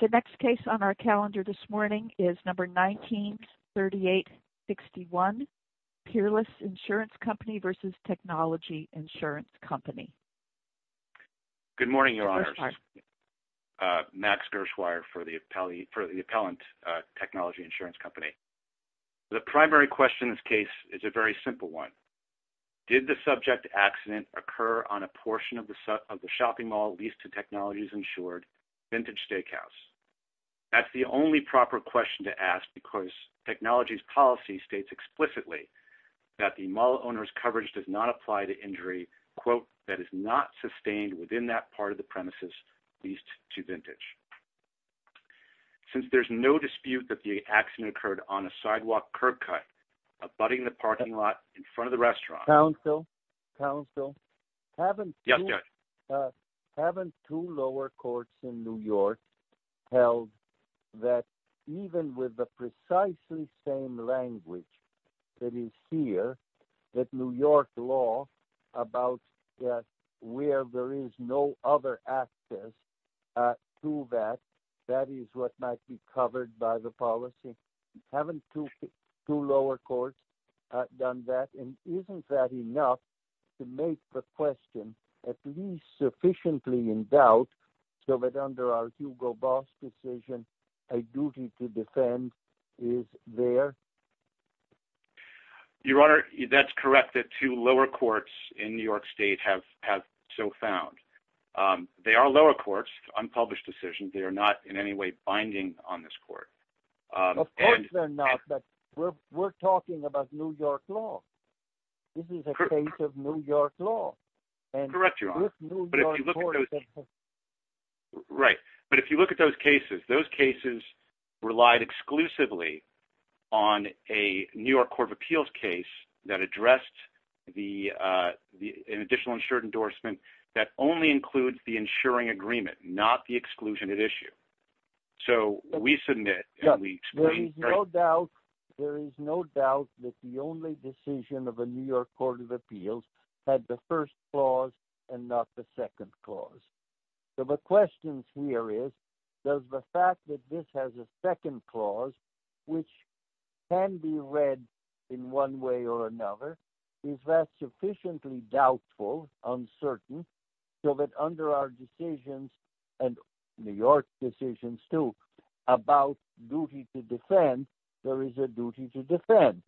The next case on our calendar this morning is number 193861, Peerless Insurance Company v. Technology Insurance Company. Good morning, Your Honors. Max Gershwire for the Appellant Technology Insurance Company. The primary question in this case is a very simple one. Did the subject accident occur on a portion of the shopping mall leased to Technologies Insured, Vintage Steakhouse? That's the only proper question to ask because Technologies Policy states explicitly that the mall owner's coverage does not apply to injury that is not sustained within that part of the premises leased to Vintage. Since there's no dispute that the accident occurred on a sidewalk curb cut abutting the parking lot in front of the New York law about where there is no other access to that, that is what might be covered by the policy. Haven't two lower courts done that? And isn't that enough to make the question at least sufficiently in doubt so that under our Hugo Boss decision a duty to defend is there? Your Honor, that's correct that two lower courts in New York state have so found. They are lower courts, unpublished decisions. They are not in any way binding on this court. Of course they're not, we're talking about New York law. This is a case of New York law. Right, but if you look at those cases, those cases relied exclusively on a New York Court of Appeals case that addressed the additional insured endorsement that only includes the insuring agreement, not the exclusion at issue. So we submit. There is no doubt that the only decision of a New York Court of Appeals had the first clause and not the second clause. So the question here is, does the fact that this has a second clause which can be read in one way or another, is that sufficiently doubtful, uncertain, so that under our decisions and New York's decisions too about duty to defend, there is a duty to defend?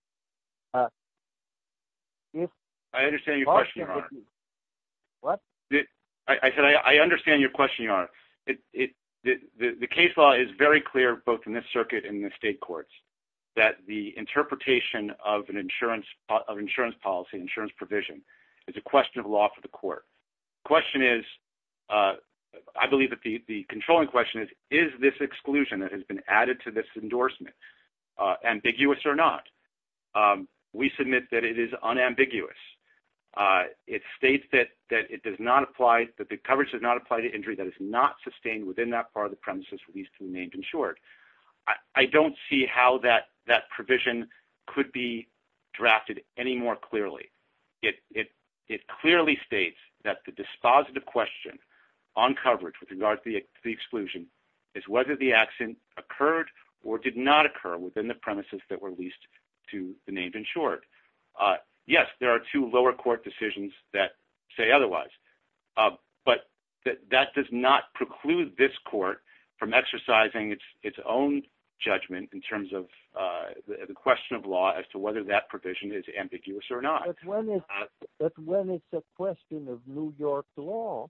I understand your question, Your Honor. What? I said I understand your question, Your Honor. The case law is very clear, both in this circuit and the state courts, that the interpretation of an insurance policy, insurance provision, is a question of law for the court. The question is, I believe that the controlling question is, is this exclusion that has been added to this endorsement ambiguous or not? We submit that it is unambiguous. It states that it does not apply, that the coverage does not apply to injury that is not how that provision could be drafted any more clearly. It clearly states that the dispositive question on coverage with regard to the exclusion is whether the accident occurred or did not occur within the premises that were leased to the name insured. Yes, there are two lower court decisions that say otherwise, but that does not preclude this court from exercising its own judgment in terms of the question of law as to whether that provision is ambiguous or not. But when it's a question of New York law,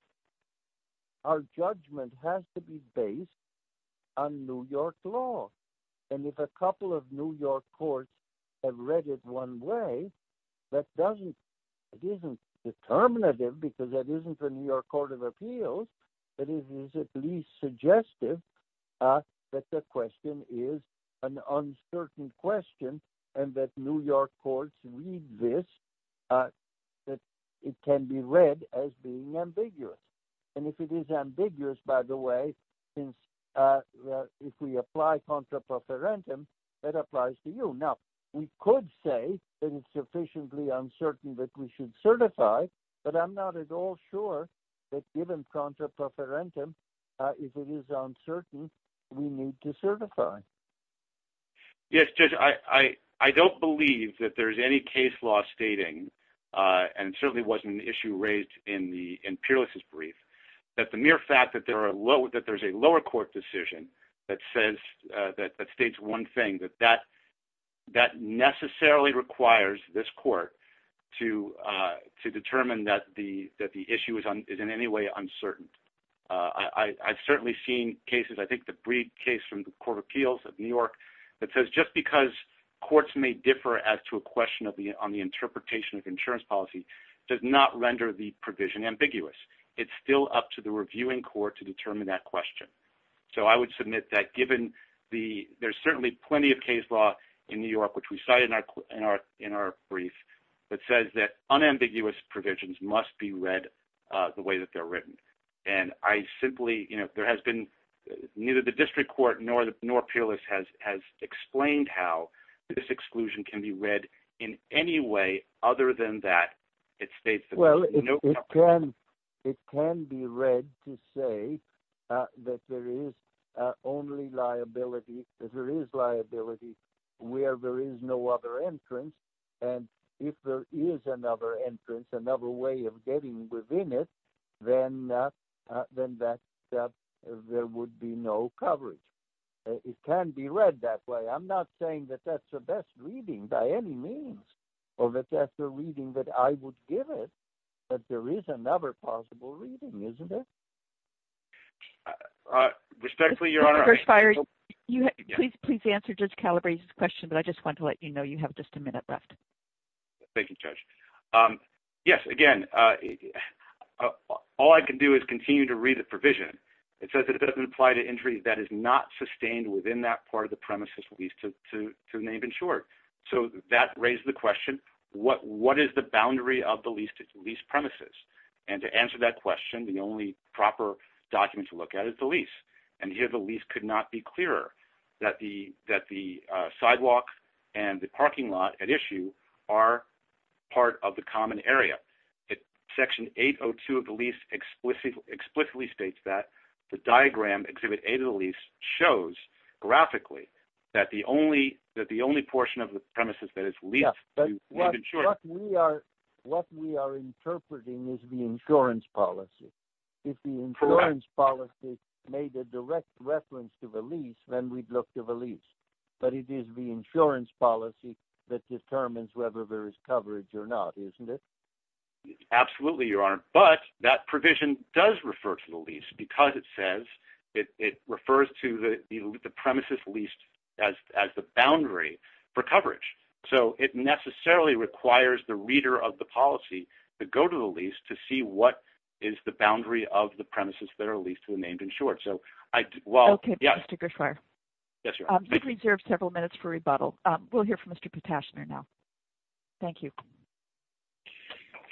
our judgment has to be based on New York law. And if a couple of New York courts read this, it can be read as being ambiguous. And if it is ambiguous, by the way, if we apply contra pro parentum, that applies to you. Now, we could say that it's sufficiently uncertain that we should certify, but I'm not at all sure that given contra parentum, if it is uncertain, we need to certify. Yes, Judge, I don't believe that there's any case law stating and certainly wasn't an issue raised in the in peerless brief, that the mere fact that there are low that there's a lower court decision that says that states one thing that that necessarily requires this court to determine that the issue is in any way uncertain. I've certainly seen cases, I think the brief case from the Court of Appeals of New York, that says just because courts may differ as to a question on the interpretation of insurance policy does not render the provision ambiguous. It's still up to the reviewing court to determine that question. So I would submit that given the there's certainly plenty of case law in New York, which we cited in our brief, that says that unambiguous provisions must be read the way that they're written. And I simply, you know, there has been neither the district court nor peerless has explained how this exclusion can be read in any way other than that it states. Well, it can be read to say that there is only liability, that there is liability where there is no other entrance. And if there is another entrance, another way of getting within it, then that there would be no coverage. It can be read that way. I'm not saying that that's the best reading by any means, or that that's the reading that I would give it, but there is another possible reading, isn't it? Respectfully, Your Honor, I... Judge Calabrese, please answer Judge Calabrese's question, but I just want to let you know you have just a minute left. Thank you, Judge. Yes, again, all I can do is continue to read the provision. It says that it doesn't apply to injuries that to name in short. So that raised the question, what is the boundary of the lease premises? And to answer that question, the only proper document to look at is the lease. And here, the lease could not be clearer that the sidewalk and the parking lot at issue are part of the common area. Section 802 of the lease explicitly states that the diagram exhibit A to the lease shows graphically that the only portion of the premises that is leased... What we are interpreting is the insurance policy. If the insurance policy made a direct reference to the lease, then we'd look to the lease. But it is the insurance policy that determines whether there is coverage or not, isn't it? Absolutely, Your Honor. But that provision does refer to the premises leased as the boundary for coverage. So it necessarily requires the reader of the policy to go to the lease to see what is the boundary of the premises that are leased to the named insured. Okay, Mr. Gershwar. You've reserved several minutes for rebuttal. We'll hear from Mr. Potashner now. Thank you.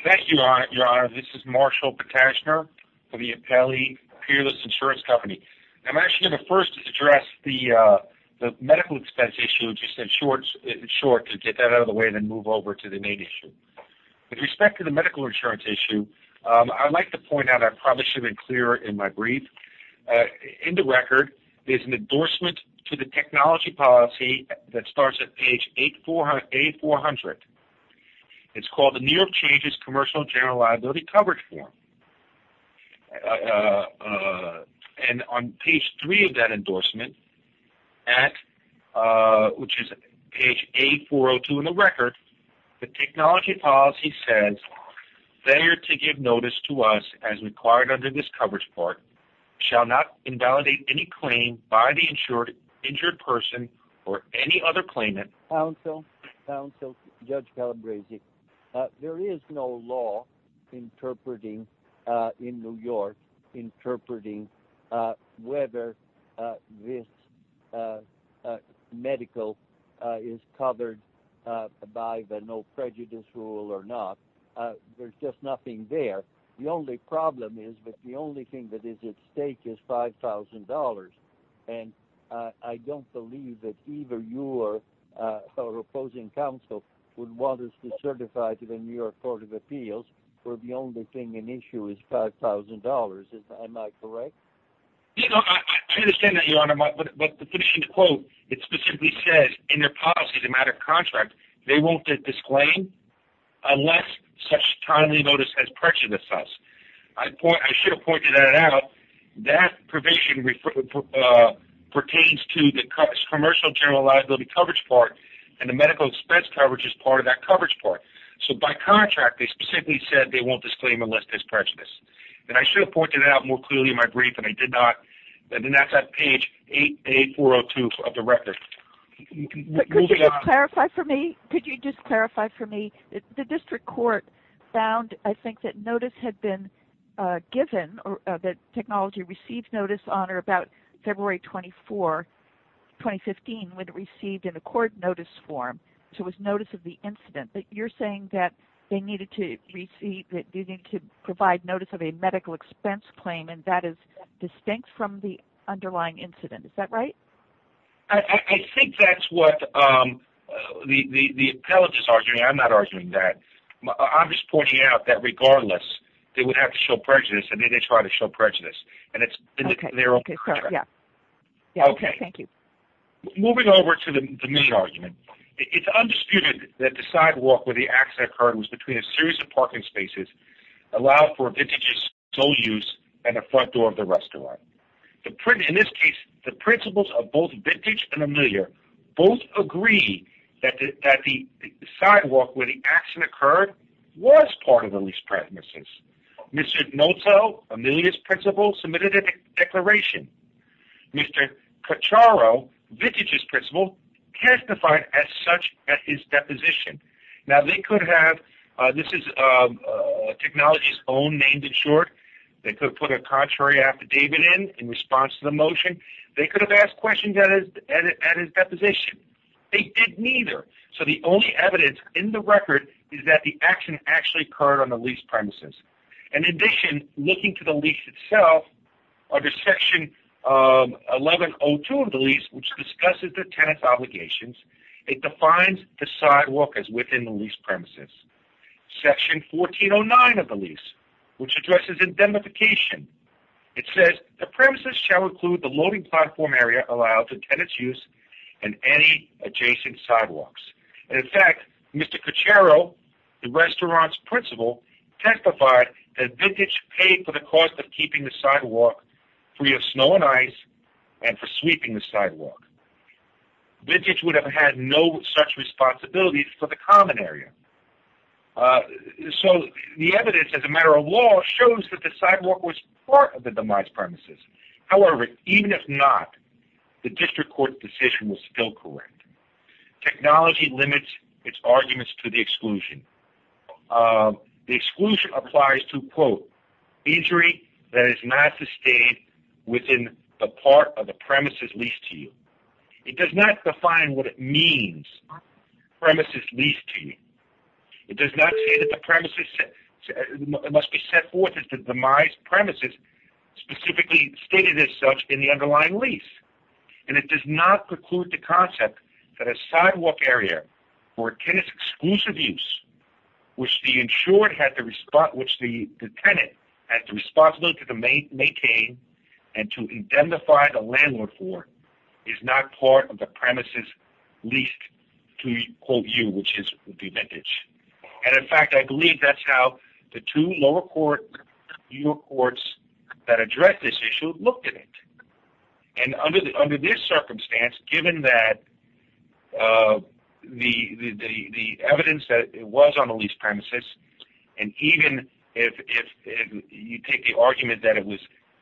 Thank you, Your Honor. This is Marshall Potashner for the Appellee Peerless Insurance Company. I'm actually going to first address the medical expense issue just in short to get that out of the way and then move over to the main issue. With respect to the medical insurance issue, I'd like to point out I probably should have been clearer in my brief. In the record, there's an endorsement to the technology policy that starts at page A400. It's called the New York Changes Commercial General Liability Coverage Form. And on page three of that endorsement, which is page A402 in the record, the technology policy says, there to give notice to us as required under this coverage part, shall not invalidate any claim by the insured person or any other claimant. Counsel, Judge Calabresi, there is no law interpreting in New York, interpreting whether this medical is covered by the no prejudice rule or not. There's just nothing there. The only problem is that the only thing that is at stake is $5,000. And I don't believe that you or opposing counsel would want us to certify to the New York Court of Appeals where the only thing in issue is $5,000. Am I correct? Yes, I understand that, Your Honor. But the finishing quote, it specifically says, in their policy, the matter of contract, they won't take this claim unless such timely notice has prejudice us. I should have pointed that out. That provision pertains to the Commercial General Liability Coverage Part, and the medical expense coverage is part of that coverage part. So by contract, they specifically said they won't disclaim unless there's prejudice. And I should have pointed that out more clearly in my brief, and I did not. And that's on page A402 of the record. But could you just clarify for me, could you just clarify for me, the district court found, I think, that notice had been given, or that technology received notice on or about February 24, 2015, when it received in a court notice form. So it was notice of the incident. But you're saying that they needed to receive, that they needed to provide notice of a medical expense claim, and that is distinct from the underlying incident. Is that right? I think that's what the appellate is arguing. I'm not arguing that. I'm just pointing out that regardless, they would have to show prejudice, and they did try to show prejudice. And it's been their own contract. Okay. Thank you. Moving over to the main argument, it's undisputed that the sidewalk where the accident occurred was between a series of parking spaces allowed for a vintage's sole use and the front door of the both Vintage and Amelia. Both agree that the sidewalk where the accident occurred was part of the lease premises. Mr. Noto, Amelia's principal, submitted a declaration. Mr. Cacciaro, Vintage's principal, testified as such at his deposition. Now, they could have, this is technology's own, named it short. They could have put a contrary affidavit in, in response to the motion. They could have asked questions at his deposition. They didn't either. So the only evidence in the record is that the accident actually occurred on the lease premises. In addition, looking to the lease itself, under section 1102 of the lease, which discusses the tenant's obligations, it defines the sidewalk as within the lease premises. Section 1409 of the lease, which addresses indemnification, it says the premises shall include the loading platform area allowed to tenant's use and any adjacent sidewalks. In fact, Mr. Cacciaro, the restaurant's principal, testified that Vintage paid for the cost of keeping the sidewalk free of snow and ice and for sweeping the sidewalk. Vintage would have had no such responsibilities for the common area. So the evidence, as a matter of law, shows that the sidewalk was part of the demise premises. However, even if not, the district court decision was still correct. Technology limits its arguments to the exclusion. The exclusion applies to, quote, injury that is not sustained within the part of the premises leased to you. It does not define what it means, premises leased to you. It does not say that the premises must be set forth as the demise premises specifically stated as such in the underlying lease. And it does not preclude the concept that a sidewalk area for a tenant's exclusive use, which the insured had to respond, which the tenant had the responsibility to maintain and to indemnify the landlord for, is not part of the premises leased to, quote, you, which is Vintage. And in fact, I believe that's how the two lower court courts that address this issue looked at it. And under this circumstance, given that the evidence that it was on the lease premises, and even if you take the argument that it was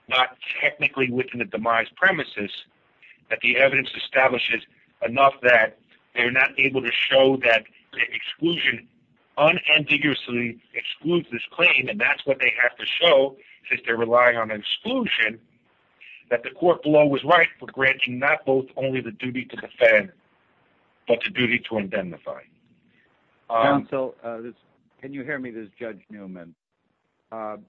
not technically within the demise premises, that the evidence establishes enough that they're not able to show that exclusion unambiguously excludes this claim. And that's what they have to show, since they're relying on exclusion, that the court below was right for granting not both only the duty to defend, but the duty to indemnify. And so, can you hear me? This is Judge Newman.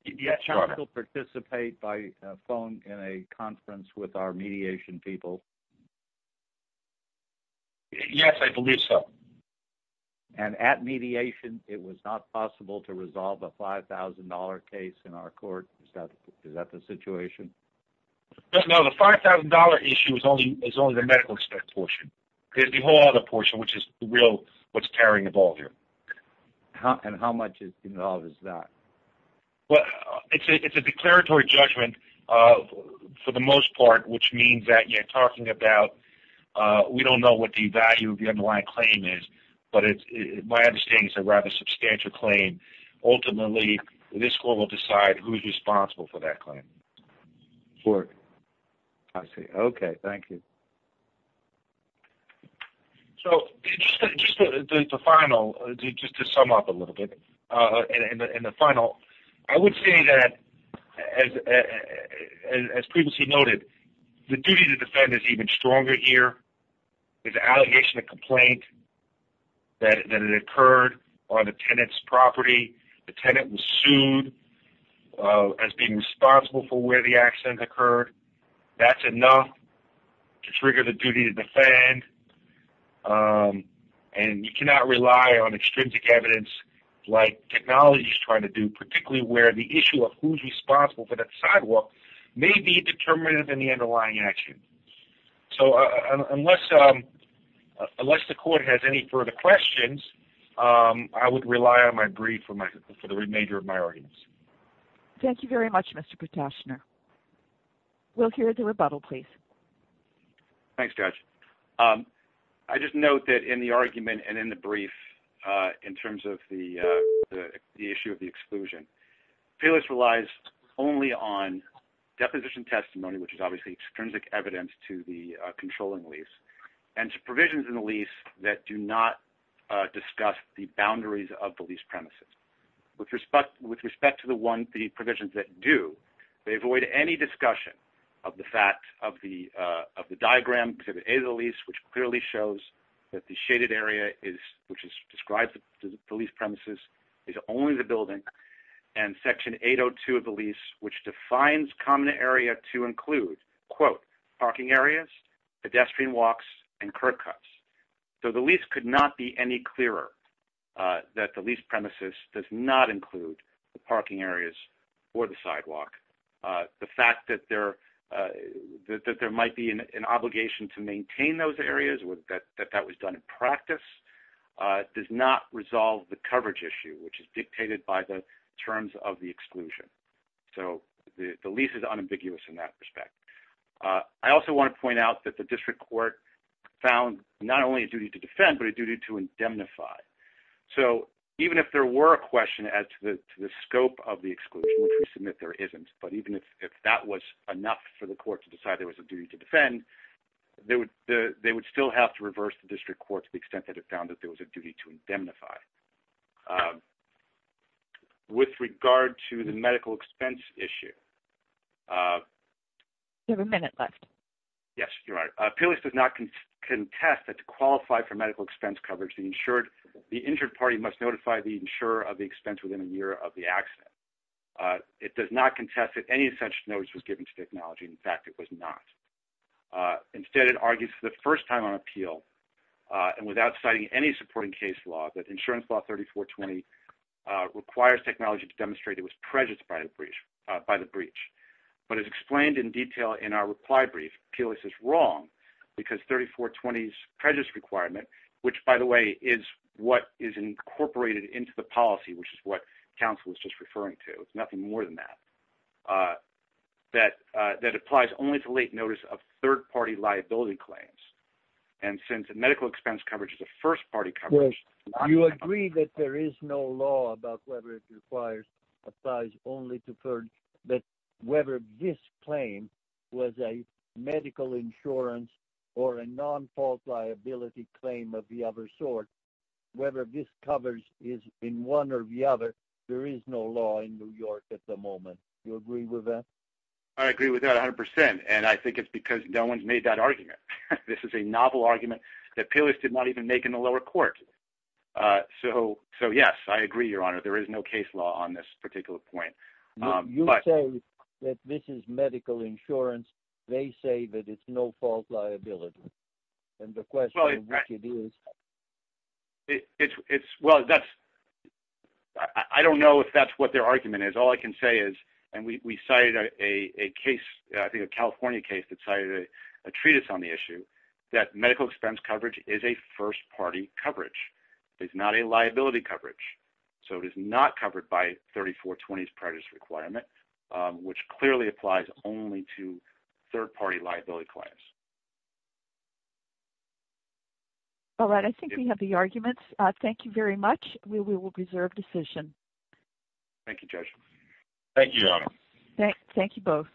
Yes, Your Honor. Can I still participate by phone in a conference with our mediation people? Yes, I believe so. And at mediation, it was not possible to resolve a $5,000 case in our court? Is that the situation? No, the $5,000 issue is only the medical aspect portion. There's the whole other portion, which is the real, what's tearing the ball here. And how much is involved in that? Well, it's a declaratory judgment for the most part, which means that you're talking about, we don't know what the value of the underlying claim is, but my understanding is it's a rather substantial claim. Ultimately, this court will decide who's responsible for that claim. Sure. I see. Okay, thank you. So, just the final, just to sum up a little bit in the final, I would say that as previously noted, the duty to defend is even stronger here. It's an allegation of complaint that it occurred on the tenant's property. The tenant was sued as being responsible for where the accident occurred. That's enough to trigger the duty to defend, and you cannot rely on extrinsic evidence like technology is trying to do, particularly where the issue of who's responsible for that sidewalk may be determinative in the underlying action. So, unless the court has any further questions, I would rely on my brief for the remainder of my arguments. Thank you very much, Mr. Kutashner. We'll hear the rebuttal, please. Thanks, Judge. I just note that in the argument and in the brief, in terms of the issue of the exclusion, Payless relies only on deposition testimony, which is obviously extrinsic evidence to the controlling lease, and to provisions in the lease that do not discuss the boundaries of the provisions that do. They avoid any discussion of the fact of the diagram, which clearly shows that the shaded area, which describes the lease premises, is only the building, and Section 802 of the lease, which defines common area to include, quote, parking areas, pedestrian walks, and curb cuts. So, the lease could not be any clearer that the lease premises does not include the parking areas or the sidewalk. The fact that there might be an obligation to maintain those areas, that that was done in practice, does not resolve the coverage issue, which is dictated by the terms of the exclusion. So, the lease is unambiguous in that respect. I also want to point out that the district court found not only a duty to defend, but a duty to indemnify. So, even if there were a question as to the scope of the exclusion, which we submit there isn't, but even if that was enough for the court to decide there was a duty to defend, they would still have to reverse the district court to the extent that it found that there was a duty to indemnify. With regard to the medical expense issue... You have a minute left. Yes, you're right. Payless does not contest that to qualify for medical expense coverage, the injured party must notify the insurer of the expense within a year of the accident. It does not contest that any such notice was given to technology. In fact, it was not. Instead, it argues for the first time on appeal and without citing any supporting case law that insurance law 3420 requires technology to demonstrate it was prejudiced by the breach. But as explained in detail in our reply brief, Payless is wrong because 3420's prejudice requirement, which by the way is what is incorporated into the policy, which is what counsel was just referring to, it's nothing more than that, that applies only to late notice of third-party liability claims. And since medical expense coverage is a first-party coverage... You agree that there is no law about whether it applies only to third... that whether this claim was a medical insurance or a non-fault liability claim of the other sort, whether this coverage is in one or the other, there is no law in New York at the moment. You agree with that? I agree with that 100% and I think it's because no one's made that argument. This is a novel argument that Payless did not even make in the lower court. So yes, I agree, your honor, there is no case law on this particular point. You say that this is medical insurance, they say that it's no fault liability. And the question is what it is. I don't know if that's what their argument is. All I can say is, and we cited a case, I think a California case that cited a treatise on the issue, that medical expense coverage is a first-party coverage. It's not a liability coverage. So it is not covered by 3420's prejudice requirement, which clearly applies only to third-party liability claims. All right, I think we have the arguments. Thank you very much. We will reserve decision. Thank you, Judge. Thank you, your honor. Thank you both.